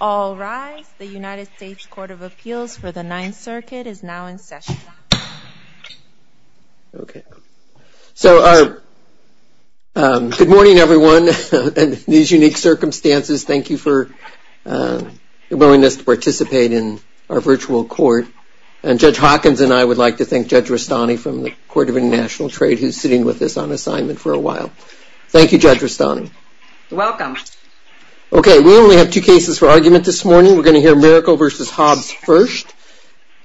All rise. The United States Court of Appeals for the Ninth Circuit is now in session. Okay. So good morning, everyone. In these unique circumstances, thank you for your willingness to participate in our virtual court. And Judge Hawkins and I would like to thank Judge Rastani from the Court of International Trade who's sitting with us on assignment for a while. Thank you, Judge Rastani. Welcome. Okay. We only have two cases for argument this morning. We're going to hear Miracle v. Hobbs first.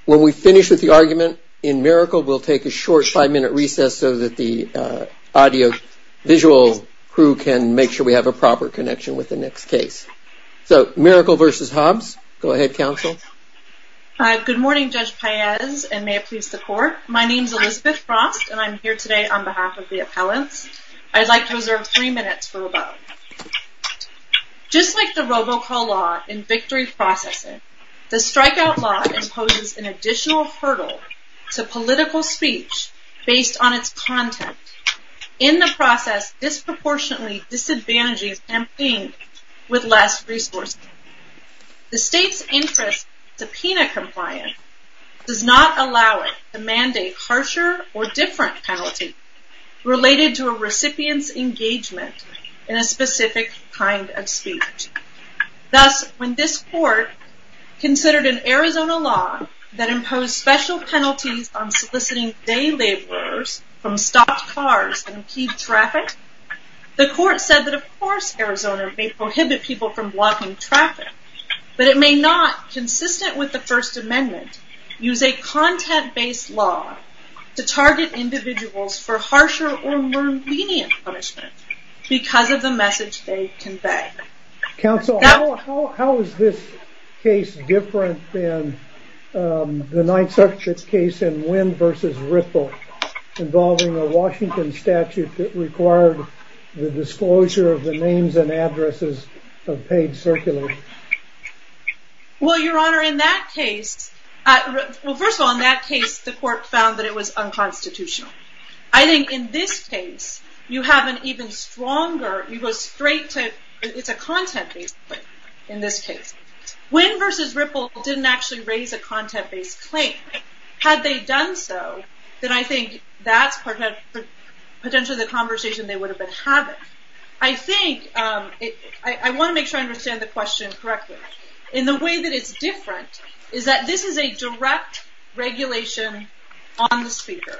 When we finish with the argument in Miracle, we'll take a short five-minute recess so that the audiovisual crew can make sure we have a proper connection with the next case. So Miracle v. Hobbs, go ahead, counsel. Good morning, Judge Paez, and may it please the Court. My name's Elizabeth Frost, and I'm here today on behalf of the appellants. I'd like to reserve three minutes for rebuttal. Just like the robocall law in victory processing, the strikeout law imposes an additional hurdle to political speech based on its content, in the process disproportionately disadvantaging a campaign with less resources. The state's interest in subpoena compliance does not allow it to mandate harsher or different penalties related to a recipient's engagement in a specific kind of speech. Thus, when this Court considered an Arizona law that imposed special penalties on soliciting day laborers from stopped cars and key traffic, the Court said that, of course, Arizona may prohibit people from blocking traffic, but it may not, consistent with the First Amendment, use a content-based law to target individuals for harsher or more lenient punishment because of the message they convey. Counsel, how is this case different than the Ninth Circuit's case in Wynn v. Ripple, involving a Washington statute that required the disclosure of the names and addresses of paid circulars? Well, Your Honor, in that case, well, first of all, in that case, the Court found that it was unconstitutional. I think in this case, you have an even stronger, you go straight to, it's a content-based claim in this case. Wynn v. Ripple didn't actually raise a content-based claim. Had they done so, then I think that's potentially the conversation they would have been having. I think, I want to make sure I understand the question correctly. In the way that it's different is that this is a direct regulation on the speaker,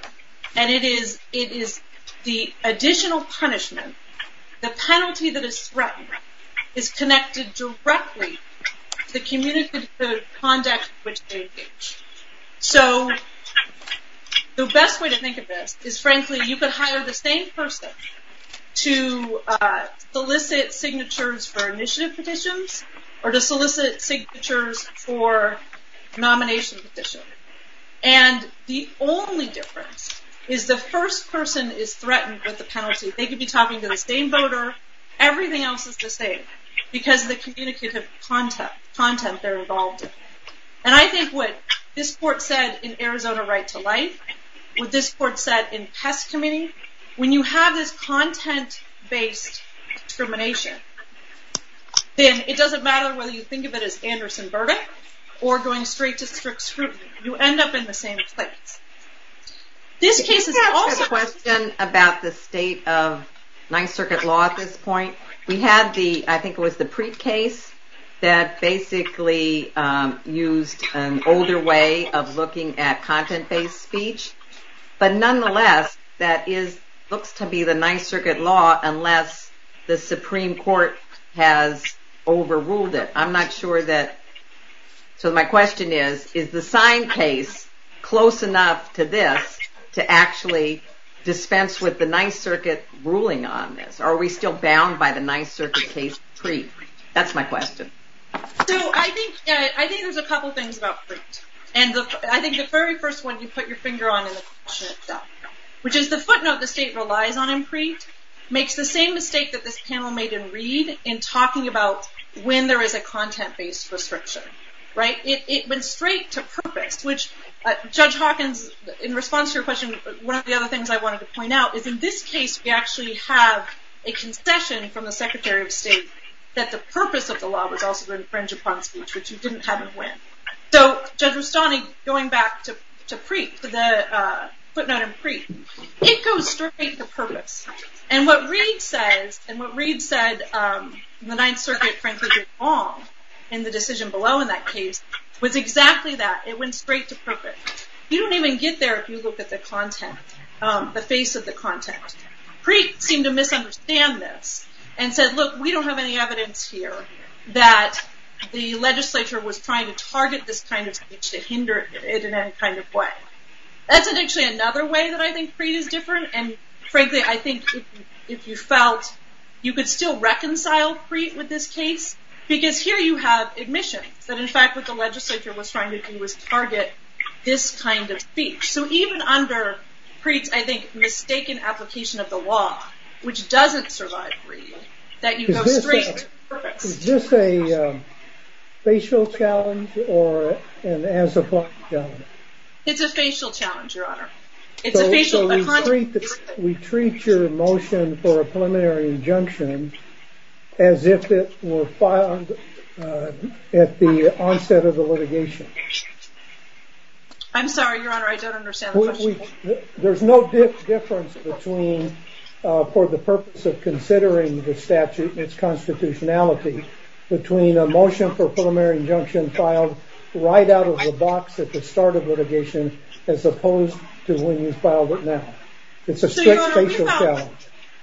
and it is the additional punishment, the penalty that is threatened, is connected directly to the conduct in which they engage. So the best way to think of this is, frankly, you could hire the same person to solicit signatures for initiative petitions or to solicit signatures for nomination petitions. And the only difference is the first person is threatened with the penalty. They could be talking to the same voter. Everything else is the same because of the communicative content they're involved in. And I think what this Court said in Arizona Right to Life, what this Court said in Hess Committee, when you have this content-based discrimination, then it doesn't matter whether you think of it as Anderson-Burton or going straight to strict scrutiny. You end up in the same place. This case is also- I have a question about the state of Ninth Circuit law at this point. We had the, I think it was the Preet case, that basically used an older way of looking at content-based speech. But nonetheless, that looks to be the Ninth Circuit law unless the Supreme Court has overruled it. I'm not sure that- So my question is, is the sign case close enough to this to actually dispense with the Ninth Circuit ruling on this? Are we still bound by the Ninth Circuit case of Preet? That's my question. So I think there's a couple things about Preet. And I think the very first one you put your finger on in the question itself, which is the footnote the state relies on in Preet, makes the same mistake that this panel made in Reed in talking about when there is a content-based restriction. It went straight to purpose, which Judge Hawkins, in response to your question, one of the other things I wanted to point out is in this case we actually have a concession from the Secretary of State that the purpose of the law was also to infringe upon speech, which you didn't have him win. So Judge Rustani, going back to Preet, to the footnote in Preet, it goes straight to purpose. And what Reed says, and what Reed said in the Ninth Circuit, frankly, did wrong in the decision below in that case, was exactly that. It went straight to purpose. You don't even get there if you look at the content, the face of the content. Preet seemed to misunderstand this and said, look, we don't have any evidence here that the legislature was trying to target this kind of speech to hinder it in any kind of way. That's actually another way that I think Preet is different. And frankly, I think if you felt you could still reconcile Preet with this case, because here you have admission that in fact what the legislature was trying to do was target this kind of speech. So even under Preet's, I think, mistaken application of the law, which doesn't survive Reed, that you go straight to purpose. Is this a facial challenge or an as-applied challenge? It's a facial challenge, Your Honor. So we treat your motion for a preliminary injunction as if it were filed at the onset of the litigation? I'm sorry, Your Honor, I don't understand the question. There's no difference between, for the purpose of considering the statute and its constitutionality, between a motion for a preliminary injunction filed right out of the box at the start of litigation as opposed to when you filed it now. It's a strict facial challenge.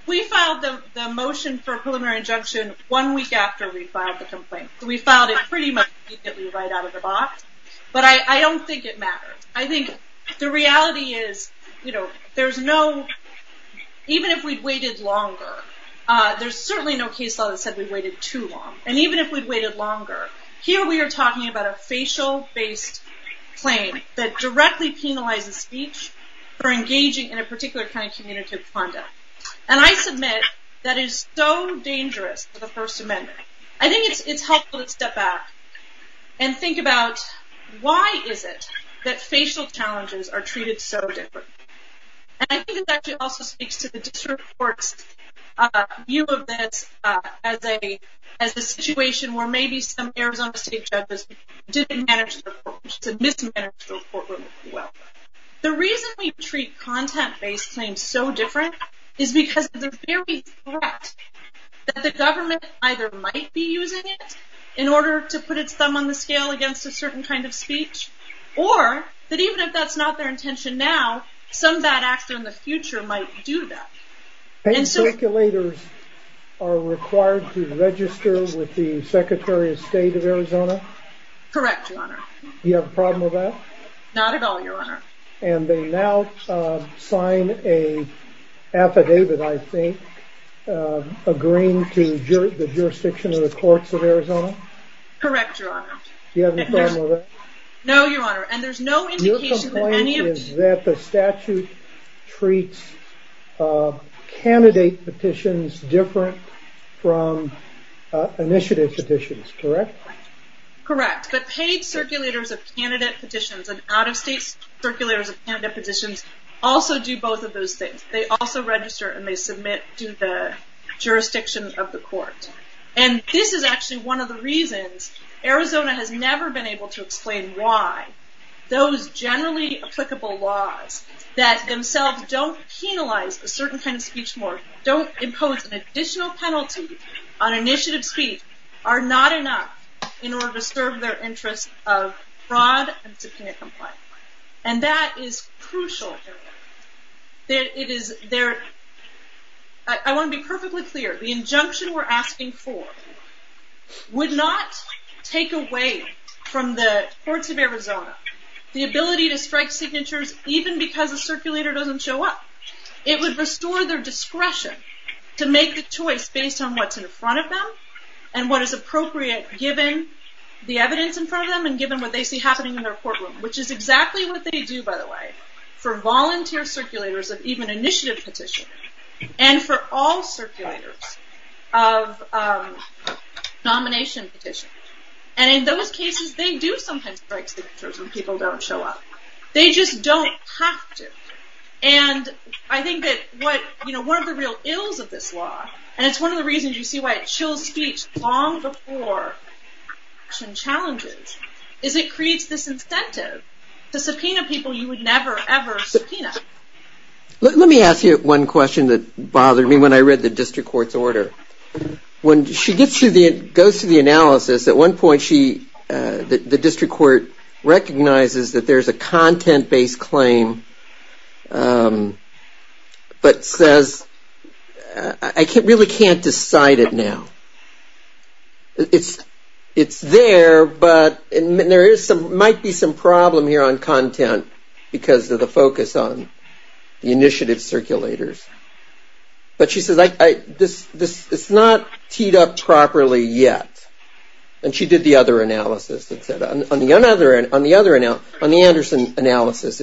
We filed the motion for a preliminary injunction one week after we filed the complaint. We filed it pretty much immediately right out of the box. But I don't think it matters. I think the reality is, even if we'd waited longer, there's certainly no case law that said we waited too long. And even if we'd waited longer, here we are talking about a facial-based claim that directly penalizes speech for engaging in a particular kind of communicative conduct. And I submit that is so dangerous for the First Amendment. I think it's helpful to step back and think about why is it that facial challenges are treated so differently? And I think it actually also speaks to the district court's view of this as a situation where maybe some Arizona state judges didn't manage the report or mismanaged the report really well. The reason we treat content-based claims so different is because of the very threat that the government either might be using it in order to put its thumb on the scale against a certain kind of speech, or that even if that's not their intention now, some bad actor in the future might do that. And so... Paying speculators are required to register with the Secretary of State of Arizona? Correct, Your Honor. Do you have a problem with that? Not at all, Your Honor. And they now sign an affidavit, I think, agreeing to the jurisdiction of the courts of Arizona? Correct, Your Honor. You have a problem with that? No, Your Honor. And there's no indication that any of... Your complaint is that the statute treats candidate petitions different from initiative petitions, correct? Correct. But paid circulators of candidate petitions and out-of-state circulators of candidate petitions also do both of those things. They also register and they submit to the jurisdiction of the court. And this is actually one of the reasons Arizona has never been able to explain why those generally applicable laws that themselves don't penalize a certain kind of speech more, don't impose an additional penalty on initiative speech, are not enough in order to serve their interests of fraud and subpoena compliance. And that is crucial. I want to be perfectly clear. The injunction we're asking for would not take away from the courts of Arizona the ability to strike signatures even because the circulator doesn't show up. It would restore their discretion to make the choice based on what's in front of them and what is appropriate given the evidence in front of them and given what they see happening in their courtroom, which is exactly what they do, by the way, for volunteer circulators of even initiative petition. And for all circulators of nomination petition. And in those cases they do sometimes strike signatures when people don't show up. They just don't have to. And I think that one of the real ills of this law, and it's one of the reasons you see why it chills speech long before action challenges, is it creates this incentive to subpoena people you would never ever subpoena. Let me ask you one question that bothered me when I read the district court's order. When she goes through the analysis, at one point the district court recognizes that there's a content-based claim but says, I really can't decide it now. It's there, but there might be some problem here on content because of the focus on the initiative circulators. But she says, it's not teed up properly yet. And she did the other analysis. On the Anderson analysis,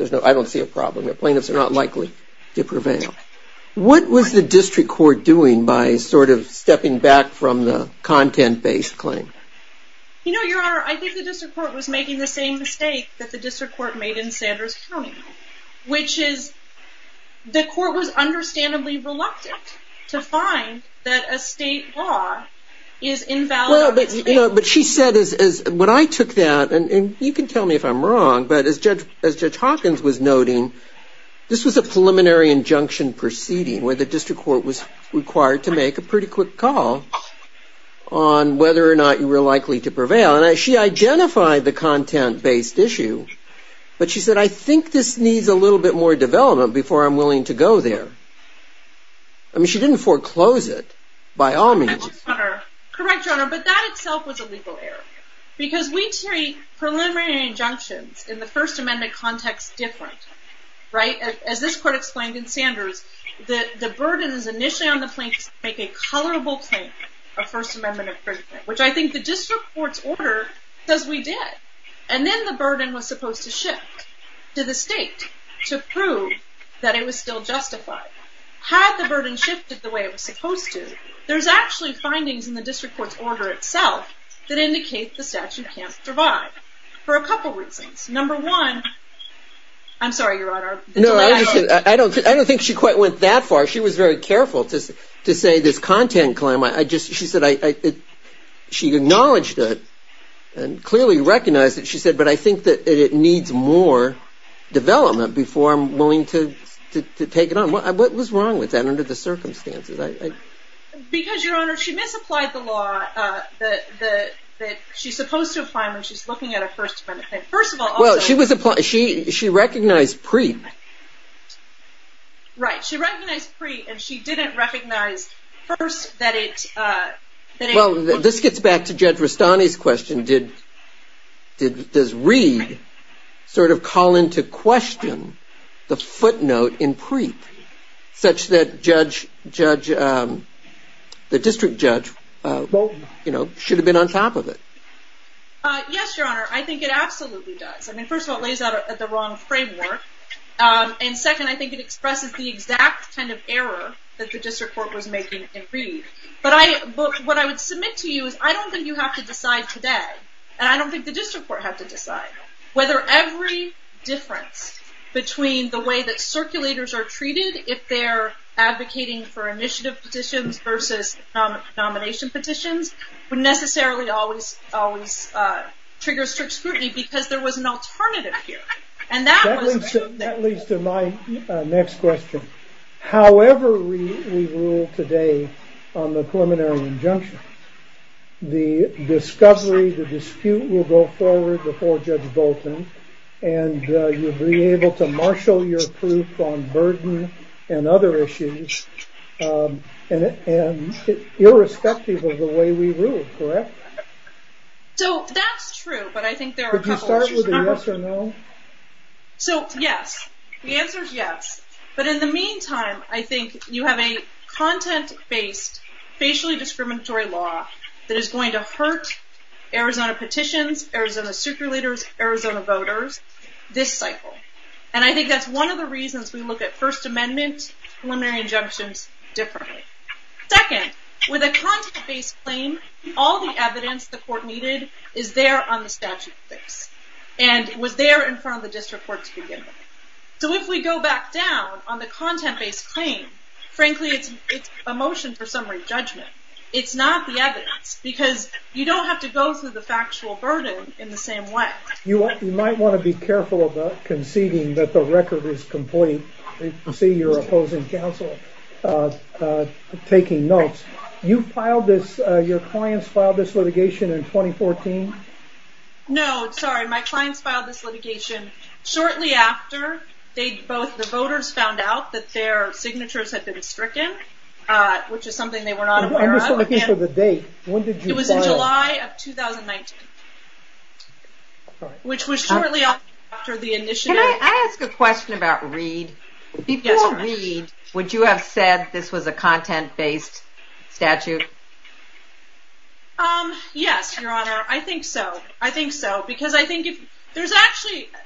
I don't see a problem. The plaintiffs are not likely to prevail. What was the district court doing by sort of stepping back from the content-based claim? You know, Your Honor, I think the district court was making the same mistake that the district court made in Sanders County, which is the court was understandably reluctant to find that a state law is invalid. But she said, when I took that, and you can tell me if I'm wrong, but as Judge Hawkins was noting, this was a preliminary injunction proceeding where the district court was required to make a pretty quick call on whether or not you were likely to identify the content-based issue. But she said, I think this needs a little bit more development before I'm willing to go there. I mean, she didn't foreclose it by all means. Correct, Your Honor, but that itself was a legal error. Because we treat preliminary injunctions in the First Amendment context different, right? As this court explained in Sanders, the burden is initially on the plaintiffs to make a colorable claim, a First Amendment infringement, which I think the district court's order says we did. And then the burden was supposed to shift to the state to prove that it was still justified. Had the burden shifted the way it was supposed to, there's actually findings in the district court's order itself that indicate the statute can't survive for a couple reasons. Number one, I'm sorry, Your Honor. No, I understand. I don't think she quite went that far. She was very careful to say this content claim. She acknowledged it and clearly recognized it, she said, but I think that it needs more development before I'm willing to take it on. What was wrong with that under the circumstances? Because, Your Honor, she misapplied the law that she's supposed to apply when she's looking at a First Amendment claim. First of all, also – Well, she recognized pre. Right, she recognized pre, and she didn't recognize, first, that it – Well, this gets back to Judge Rastani's question. Does Reed sort of call into question the footnote in pre, such that the district judge should have been on top of it? Yes, Your Honor, I think it absolutely does. I mean, first of all, it lays out the wrong framework, and second, I think it expresses the exact kind of error that the district court was making in Reed. But what I would submit to you is I don't think you have to decide today, and I don't think the district court had to decide, whether every difference between the way that circulators are treated if they're advocating for initiative petitions versus nomination petitions would necessarily always trigger strict scrutiny because there was an alternative here. And that was – That leads to my next question. However we rule today on the preliminary injunction, the discovery, the dispute will go forward before Judge Bolton, and you'll be able to marshal your proof on burden and other issues irrespective of the way we rule, correct? So that's true, but I think there are a couple – Can I start with a yes or no? So, yes. The answer is yes. But in the meantime, I think you have a content-based, facially discriminatory law that is going to hurt Arizona petitions, Arizona circulators, Arizona voters this cycle. And I think that's one of the reasons we look at First Amendment preliminary injunctions differently. Second, with a content-based claim, all the evidence the court needed is there on the statute of things. And it was there in front of the district court to begin with. So if we go back down on the content-based claim, frankly it's a motion for summary judgment. It's not the evidence, because you don't have to go through the factual burden in the same way. You might want to be careful about conceding that the record is complete. You can see your opposing counsel taking notes. You filed this – your clients filed this litigation in 2014? No, sorry. My clients filed this litigation shortly after they both – the voters found out that their signatures had been stricken, which is something they were not aware of. I'm just looking for the date. When did you file it? It was in July of 2019, which was shortly after the initiative – Can I ask a question about Reed? Before Reed, would you have said this was a content-based statute? Yes, Your Honor. I think so. I think so. Because I think if – there's actually –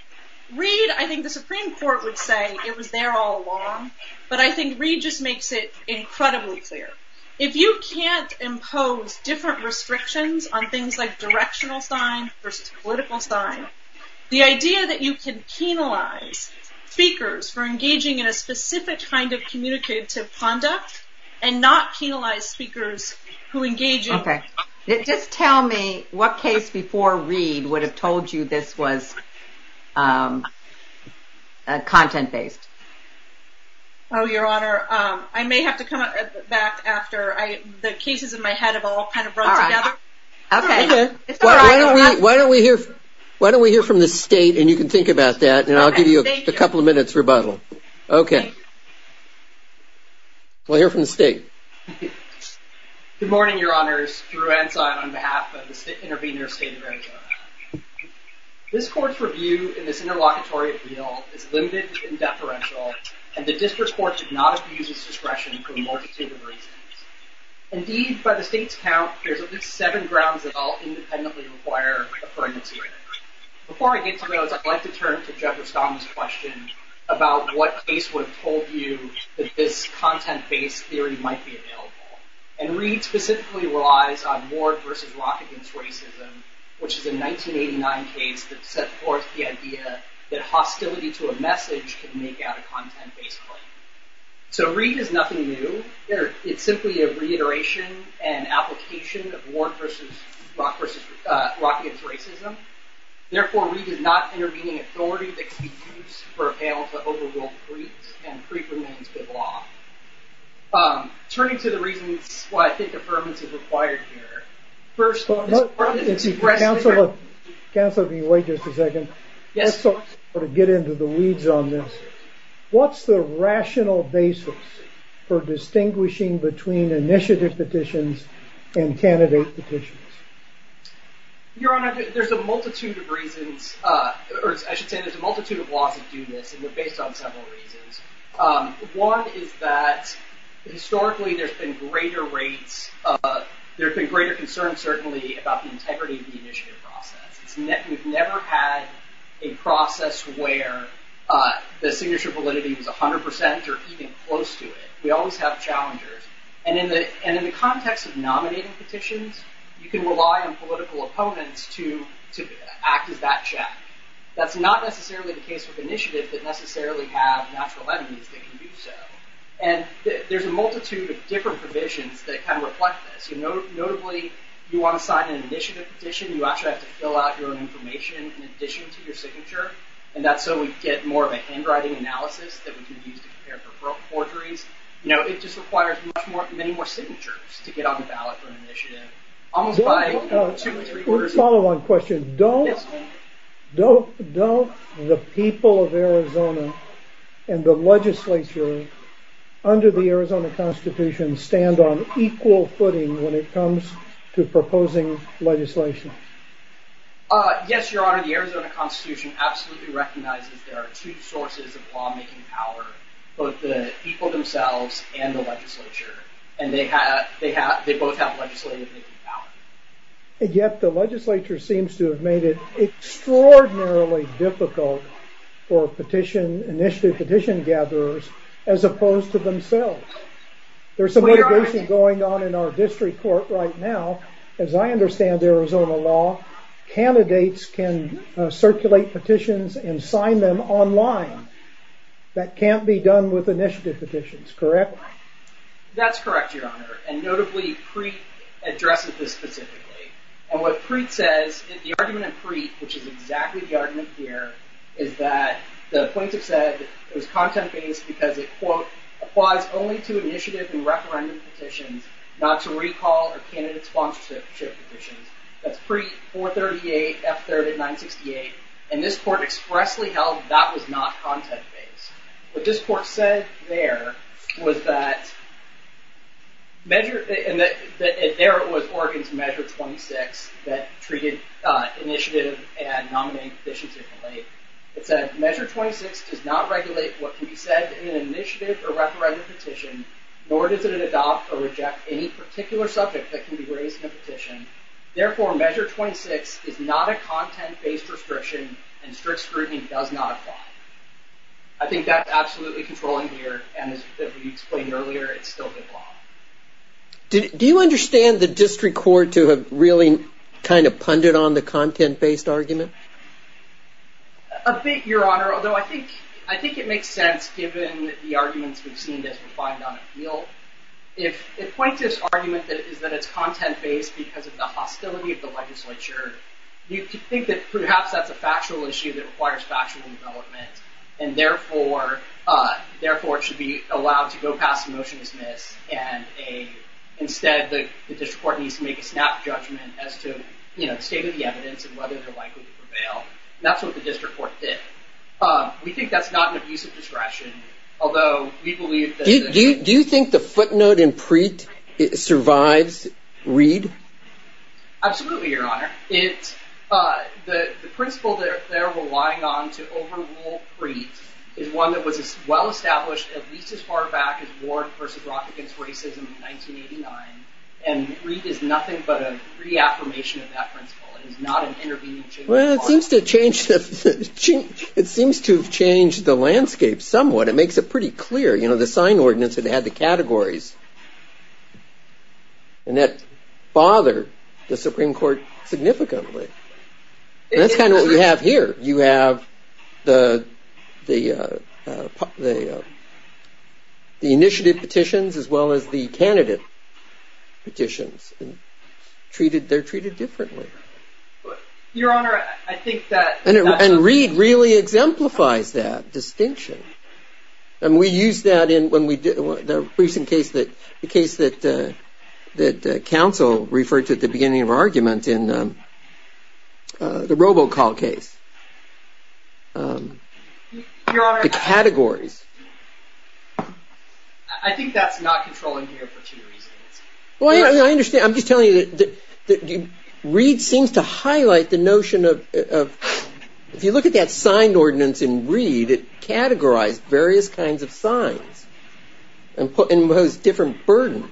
Reed, I think the Supreme Court would say it was there all along. But I think Reed just makes it incredibly clear. If you can't impose different restrictions on things like directional sign versus political sign, the idea that you can penalize speakers for engaging in a specific kind of communicative conduct and not penalize speakers who engage in – Okay. Just tell me what case before Reed would have told you this was content-based? Oh, Your Honor, I may have to come back after I – the cases in my head have all kind of brought together. Okay. It's all right. Why don't we hear from the State, and you can think about that, and I'll give you a couple of minutes rebuttal. Okay. We'll hear from the State. Good morning, Your Honors. Drew Ensign on behalf of the Intervenor State of Arizona. This Court's review in this interlocutory appeal is limited and deferential, and the District Court should not abuse its discretion for a multitude of reasons. Indeed, by the State's count, there's at least seven grounds that all independently require a pregnancy review. Before I get to those, I'd like to turn to Judge Ostama's question about what case would have told you that this content-based theory might be available. And Reed specifically relies on Ward v. Rock v. Racism, which is a 1989 case that set forth the idea that hostility to a message can make out a content-based claim. So Reed is nothing new. It's simply a reiteration and application of Ward v. Rock v. Racism. Therefore, Reed is not intervening authority that can be used for appeal to overruled creeds, and creed remains good law. Turning to the reasons why I think deferments is required here. First... Counselor, can you wait just a second? Yes, of course. Let's sort of get into the weeds on this. What's the rational basis for distinguishing between initiative petitions and candidate petitions? Your Honor, there's a multitude of reasons... I should say there's a multitude of laws that do this, and they're based on several reasons. One is that historically there's been greater rates of... There have been greater concerns, certainly, about the integrity of the initiative process. We've never had a process where the signature validity was 100% or even close to it. We always have challengers. And in the context of nominating petitions, you can rely on political opponents to act as that check. That's not necessarily the case with initiatives that necessarily have natural enemies that can do so. And there's a multitude of different provisions that kind of reflect this. Notably, you want to sign an initiative petition, you actually have to fill out your own information in addition to your signature, and that's so we get more of a handwriting analysis that we can use to compare for forgeries. It just requires many more signatures to get on the ballot for an initiative. Almost by two or three quarters... A follow-on question. Don't the people of Arizona and the legislature under the Arizona Constitution stand on equal footing when it comes to proposing legislation? Yes, Your Honor. The Arizona Constitution absolutely recognizes there are two sources of law-making power, both the people themselves and the legislature. And they both have legislative-making power. Yet the legislature seems to have made it extraordinarily difficult for petition... initiative petition gatherers as opposed to themselves. There's some litigation going on in our district court right now. As I understand the Arizona law, candidates can circulate petitions and sign them online. That can't be done with initiative petitions, correct? That's correct, Your Honor. And notably, Preet addresses this specifically. And what Preet says, the argument of Preet, which is exactly the argument here, is that the plaintiff said it was content-based because it, quote, applies only to initiative and referendum petitions, not to recall or candidate sponsorship petitions. That's Preet 438, F30, 968. And this court expressly held that was not content-based. What this court said there was that measure... and there it was, Oregon's Measure 26 that treated initiative and nominating petitions differently. It said, Measure 26 does not regulate what can be said in an initiative or referendum petition, nor does it adopt or reject any particular subject that can be raised in a petition. Therefore, Measure 26 is not a content-based restriction, and strict scrutiny does not apply. I think that's absolutely controlling here, and as we explained earlier, it's still the law. Do you understand the district court to have really kind of punded on the content-based argument? A bit, Your Honor, although I think it makes sense given the arguments we've seen as refined on appeal. If it points to this argument that it's content-based because of the hostility of the legislature, you could think that perhaps that's a factual issue that requires factual development, and therefore it should be allowed to go past motion to dismiss, and instead the district court needs to make a snap judgment as to the state of the evidence and whether they're likely to prevail. That's what the district court did. We think that's not an abuse of discretion, although we believe that... Do you think the footnote in Preet survives Reed? Absolutely, Your Honor. The principle they're relying on to overrule Preet is one that was well-established at least as far back as Ward v. Rock against racism in 1989, and Reed is nothing but a reaffirmation of that principle. Well, it seems to have changed the landscape somewhat. It makes it pretty clear. The sign ordinance that had the categories and that bothered the Supreme Court significantly. That's kind of what we have here. You have the initiative petitions as well as the candidate petitions. They're treated differently. Your Honor, I think that... And Reed really exemplifies that distinction, and we use that in the recent case that counsel referred to at the beginning of our argument in the robocall case. Your Honor... The categories. I think that's not controlling here for two reasons. Well, I understand. I'm just telling you that Reed seems to highlight the notion of... If you look at that sign ordinance in Reed, it categorized various kinds of signs and posed different burdens.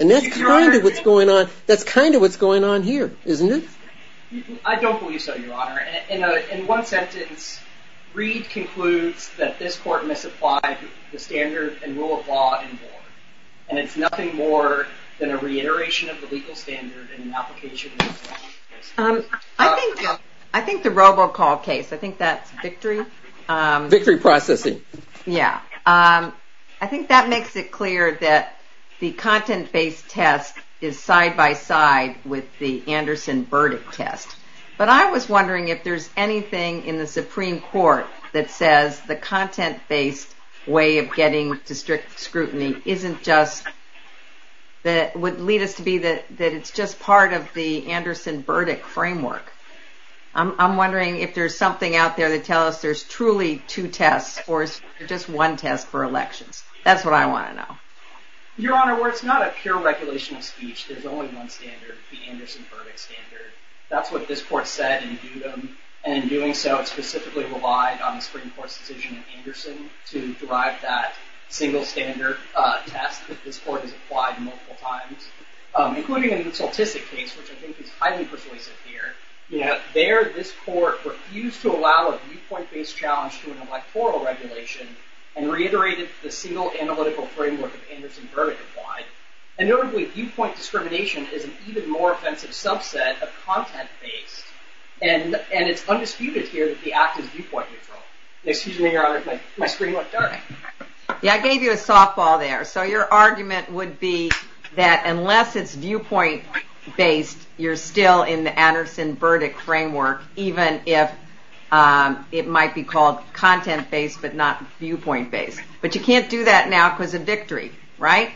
And that's kind of what's going on here, isn't it? I don't believe so, Your Honor. In one sentence, Reed concludes that this court misapplied the standard and rule of law involved. And it's nothing more than a reiteration of the legal standard and an application... I think the robocall case, I think that's victory... Victory processing. Yeah. I think that makes it clear that the content-based test is side-by-side with the Anderson verdict test. But I was wondering if there's anything in the Supreme Court that says the content-based way of getting district scrutiny isn't just... that would lead us to be that it's just part of the Anderson verdict framework. I'm wondering if there's something out there that tells us there's truly two tests or just one test for elections. That's what I want to know. Your Honor, where it's not a pure regulation of speech, there's only one standard, the Anderson verdict standard. That's what this court said and in doing so, it specifically relied on the Supreme Court's decision in Anderson to derive that single standard test that this court has applied multiple times, including in the Saltisic case, which I think is highly persuasive here. There, this court refused to allow a viewpoint-based challenge to an electoral regulation and reiterated the single analytical framework of Anderson verdict applied. And notably, viewpoint discrimination is an even more offensive subset of content-based. And it's undisputed here that the act is viewpoint-neutral. Excuse me, Your Honor, my screen went dark. Yeah, I gave you a softball there. So your argument would be that unless it's viewpoint-based, you're still in the Anderson verdict framework, even if it might be called content-based but not viewpoint-based. But you can't do that now because of victory, right?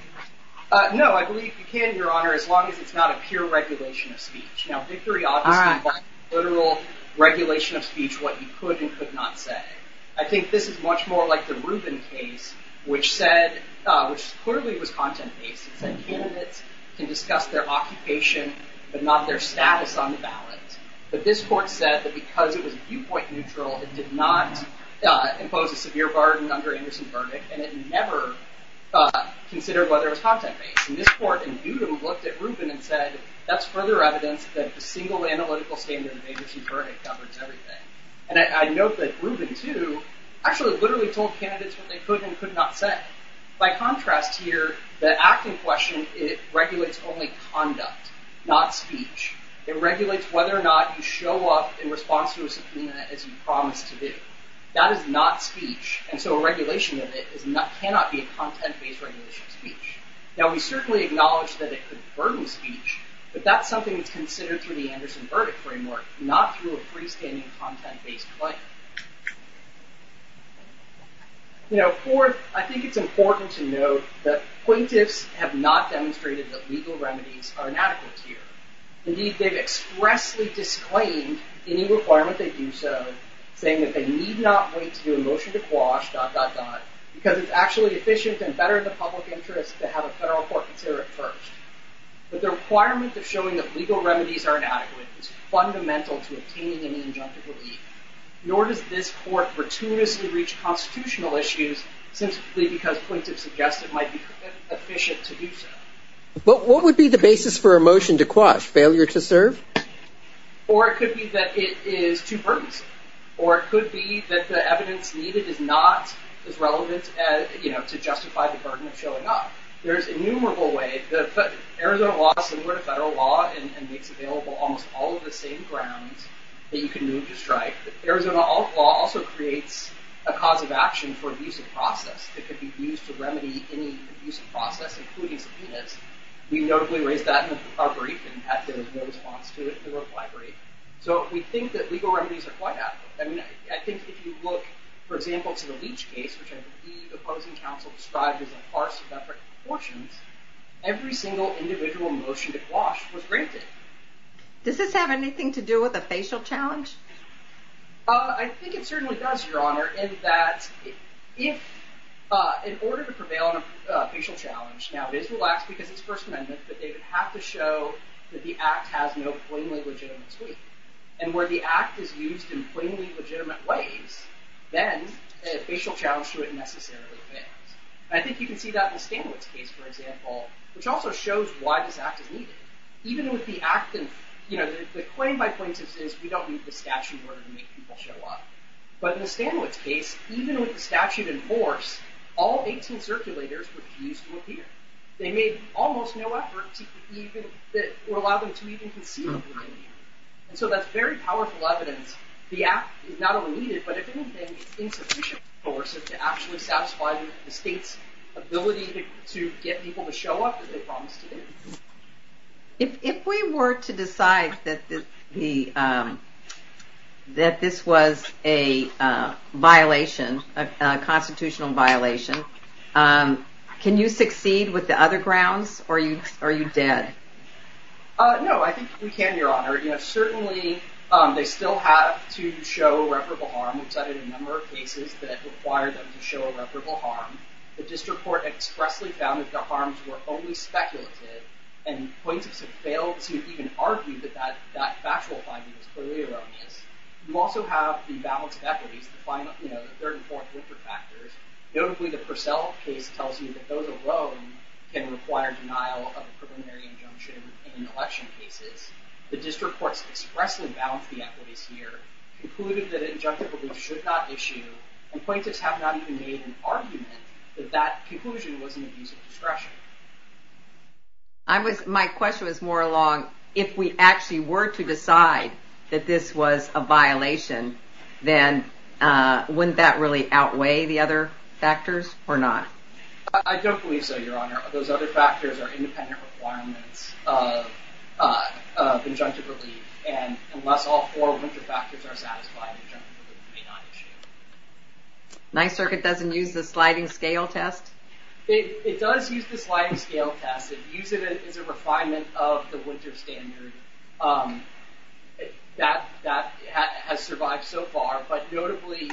No, I believe you can, Your Honor, as long as it's not a pure regulation of speech. Now, victory ought to stand by literal regulation of speech, what you could and could not say. I think this is much more like the Rubin case, which said, which clearly was content-based. It said candidates can discuss their occupation but not their status on the ballot. But this court said that because it was viewpoint-neutral, it did not impose a severe burden under Anderson verdict, and it never considered whether it was content-based. And this court indutably looked at Rubin and said, that's further evidence that the single analytical standard of Anderson verdict covers everything. And I note that Rubin, too, actually literally told candidates what they could and could not say. By contrast here, the act in question, it regulates only conduct, not speech. It regulates whether or not you show up in response to a subpoena as you promised to do. That is not speech, and so a regulation of it cannot be a content-based regulation of speech. Now, we certainly acknowledge that it could burden speech, but that's something that's considered through the Anderson verdict framework, not through a freestanding content-based claim. Fourth, I think it's important to note that plaintiffs have not demonstrated that legal remedies are inadequate here. Indeed, they've expressly disclaimed any requirement they do so, saying that they need not wait to do a motion to quash, because it's actually efficient and better in the public interest to have a federal court consider it first. But the requirement of showing that legal remedies are inadequate is fundamental to obtaining an injunctive relief. Nor does this court gratuitously reach constitutional issues simply because plaintiffs suggest it might be efficient to do so. But what would be the basis for a motion to quash? Failure to serve? Or it could be that it is too burdensome. Or it could be that the evidence needed is not as relevant to justify the burden of showing up. There's innumerable ways. Arizona law is similar to federal law and makes available almost all of the same grounds that you can move to strike. Arizona law also creates a cause of action for abusive process that could be used to remedy any abusive process, including subpoenas. We notably raised that in our brief, and there was no response to it in the reply brief. So we think that legal remedies are quite adequate. I think if you look, for example, to the Leach case, which I believe the opposing counsel described as a farce of different proportions, every single individual motion to quash was granted. Does this have anything to do with a facial challenge? I think it certainly does, Your Honor, in that in order to prevail on a facial challenge, now it is relaxed because it's First Amendment, but they would have to show that the act has no plainly legitimate suite. And where the act is used in plainly legitimate ways, then a facial challenge to it necessarily fails. I think you can see that in the Stanwitz case, for example, which also shows why this act is needed. Even with the act and, you know, the claim by plaintiffs is we don't need the statute in order to make people show up. But in the Stanwitz case, even with the statute in force, all 18 circulators refused to appear. They made almost no effort to even, or allowed them to even concede. And so that's very powerful evidence. The act is not only needed, but if anything, it's insufficient force to actually satisfy the state's ability to get people to show up that they promised to do. If we were to decide that this was a violation, a constitutional violation, can you succeed with the other grounds? Or are you dead? No, I think we can, Your Honor. You know, certainly they still have to show irreparable harm. We've cited a number of cases that require them to show irreparable harm. The district court expressly found that the harms were only speculative. And plaintiffs have failed to even argue that that factual finding was clearly erroneous. We also have the balance of equities to find, you know, the third and fourth winter factors. Notably, the Purcell case tells you that those alone can require denial of a preliminary injunction in election cases. The district courts expressly balance the equities here, concluded that injunctive abuse should not issue, and plaintiffs have not even made an argument that that conclusion was an abuse of discretion. My question was more along, if we actually were to decide that this was a violation, then wouldn't that really outweigh the other factors, or not? I don't believe so, Your Honor. Those other factors are independent requirements of injunctive relief. And unless all four winter factors are satisfied, injunctive relief may not issue. Ninth Circuit doesn't use the sliding scale test? It does use the sliding scale test. It uses it as a refinement of the winter standard that has survived so far. But notably,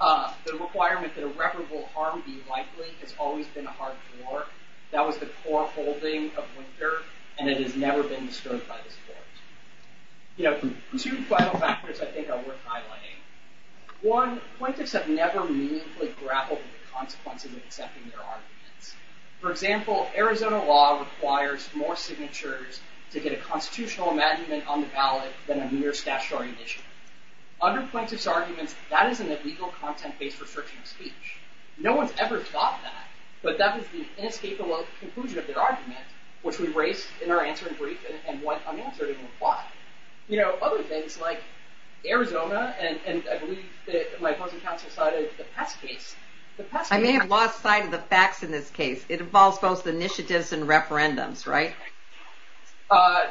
the requirement that irreparable harm be likely has always been a hard core. That was the core holding of winter, and it has never been disturbed by this Court. You know, two final factors I think are worth highlighting. One, plaintiffs have never meaningfully grappled with the consequences of accepting their arguments. For example, Arizona law requires more signatures to get a constitutional amendment on the ballot than a mere statutory initiative. Under plaintiffs' arguments, that is an illegal content-based restriction of speech. No one's ever thought that, but that was the inescapable conclusion of their argument, which we raised in our answering brief, and went unanswered, and why? You know, other things like Arizona, and I believe my opposing counsel cited the Pest case. I may have lost sight of the facts in this case. It involves both initiatives and referendums, right?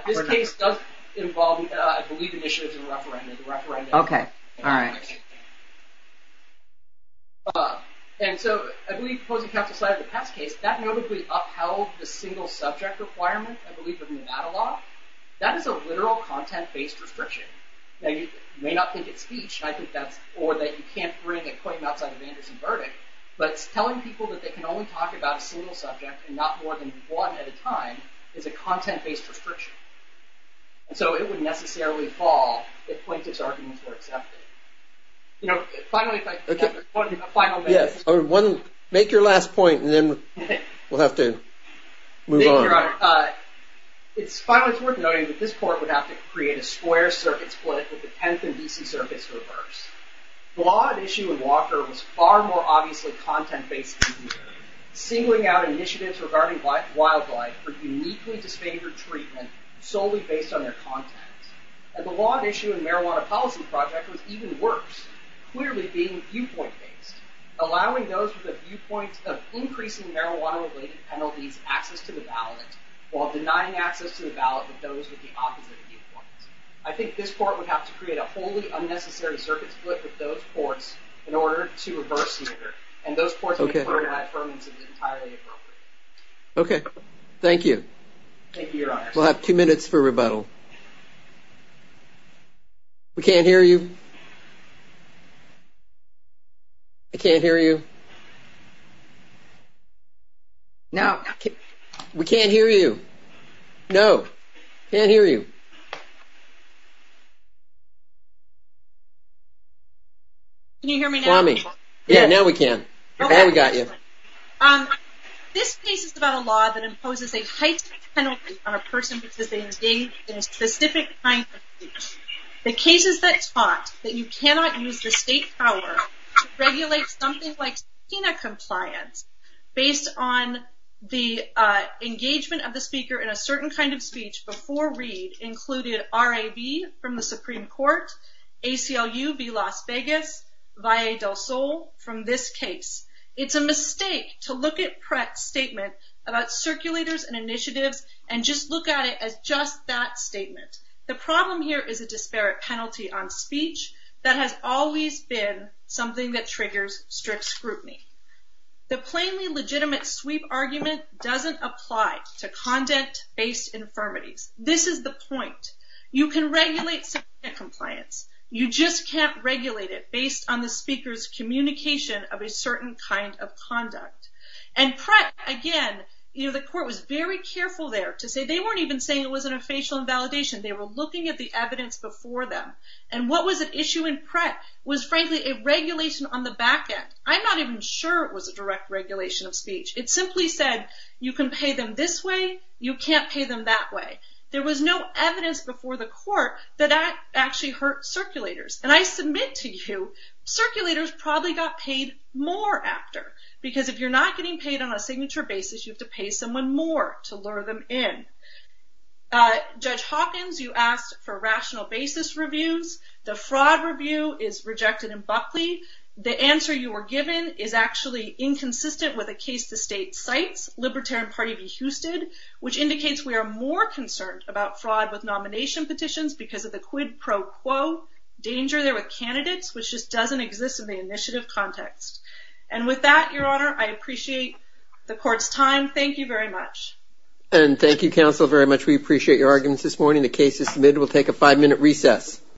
This case does involve, I believe, initiatives and referendums. Okay, all right. And so, I believe opposing counsel cited the Pest case. That notably upheld the single subject requirement, I believe, of Nevada law. That is a literal content-based restriction. Now, you may not think it's speech, or that you can't bring a claim outside of Anderson's verdict, but telling people that they can only talk about a single subject, and not more than one at a time, is a content-based restriction. And so, it wouldn't necessarily fall if plaintiffs' arguments were accepted. You know, finally, if I could have one final minute. Yes, make your last point, and then we'll have to move on. Thank you, Your Honor. Finally, it's worth noting that this court would have to create a square circuit split with the 10th and D.C. circuits reversed. The law at issue in Walker was far more obviously content-based than here, singling out initiatives regarding wildlife for uniquely disfavored treatment solely based on their content. And the law at issue in the Marijuana Policy Project was even worse, clearly being viewpoint-based, allowing those with a viewpoint of increasing marijuana-related penalties access to the ballot, while denying access to the ballot to those with the opposite viewpoints. I think this court would have to create a wholly unnecessary circuit split with those courts in order to reverse the order. And those courts would have heard that Ferman's is entirely appropriate. Okay. Thank you. Thank you, Your Honor. We'll have two minutes for rebuttal. We can't hear you. I can't hear you. Now... We can't hear you. No. Can't hear you. Can you hear me now? Yeah, now we can. Now we got you. This case is about a law that imposes a heightened penalty on a person participating in a specific kind of speech. The cases that taught that you cannot use your state power to regulate something like subpoena compliance based on the engagement of the speaker in a certain kind of speech before read included RAB from the Supreme Court, ACLU v. Las Vegas, VAE del Sol from this case. It's a mistake to look at Pratt's statement about circulators and initiatives and just look at it as just that statement. The problem here is a disparate penalty on speech that has always been something that triggers strict scrutiny. The plainly legitimate sweep argument doesn't apply to content-based infirmities. This is the point. You can regulate subpoena compliance. You just can't regulate it based on the speaker's communication of a certain kind of conduct. And Pratt, again, the court was very careful there to say they weren't even saying it wasn't a facial invalidation. They were looking at the evidence before them. And what was at issue in Pratt was frankly a regulation on the back end. I'm not even sure it was a direct regulation of speech. It simply said, you can pay them this way, you can't pay them that way. There was no evidence before the court that that actually hurt circulators. And I submit to you, circulators probably got paid more after. Because if you're not getting paid on a signature basis, you have to pay someone more to lure them in. Judge Hawkins, you asked for rational basis reviews. The fraud review is rejected in Buckley. The answer you were given is actually inconsistent with a case the state cites, Libertarian Party v. Houston, which indicates we are more concerned about fraud with nomination petitions because of the quid pro quo danger there with candidates, which just doesn't exist in the initiative context. And with that, Your Honor, I appreciate the court's time. Thank you very much. And thank you, counsel, very much. We appreciate your arguments this morning. The case is submitted. We'll take a five-minute recess.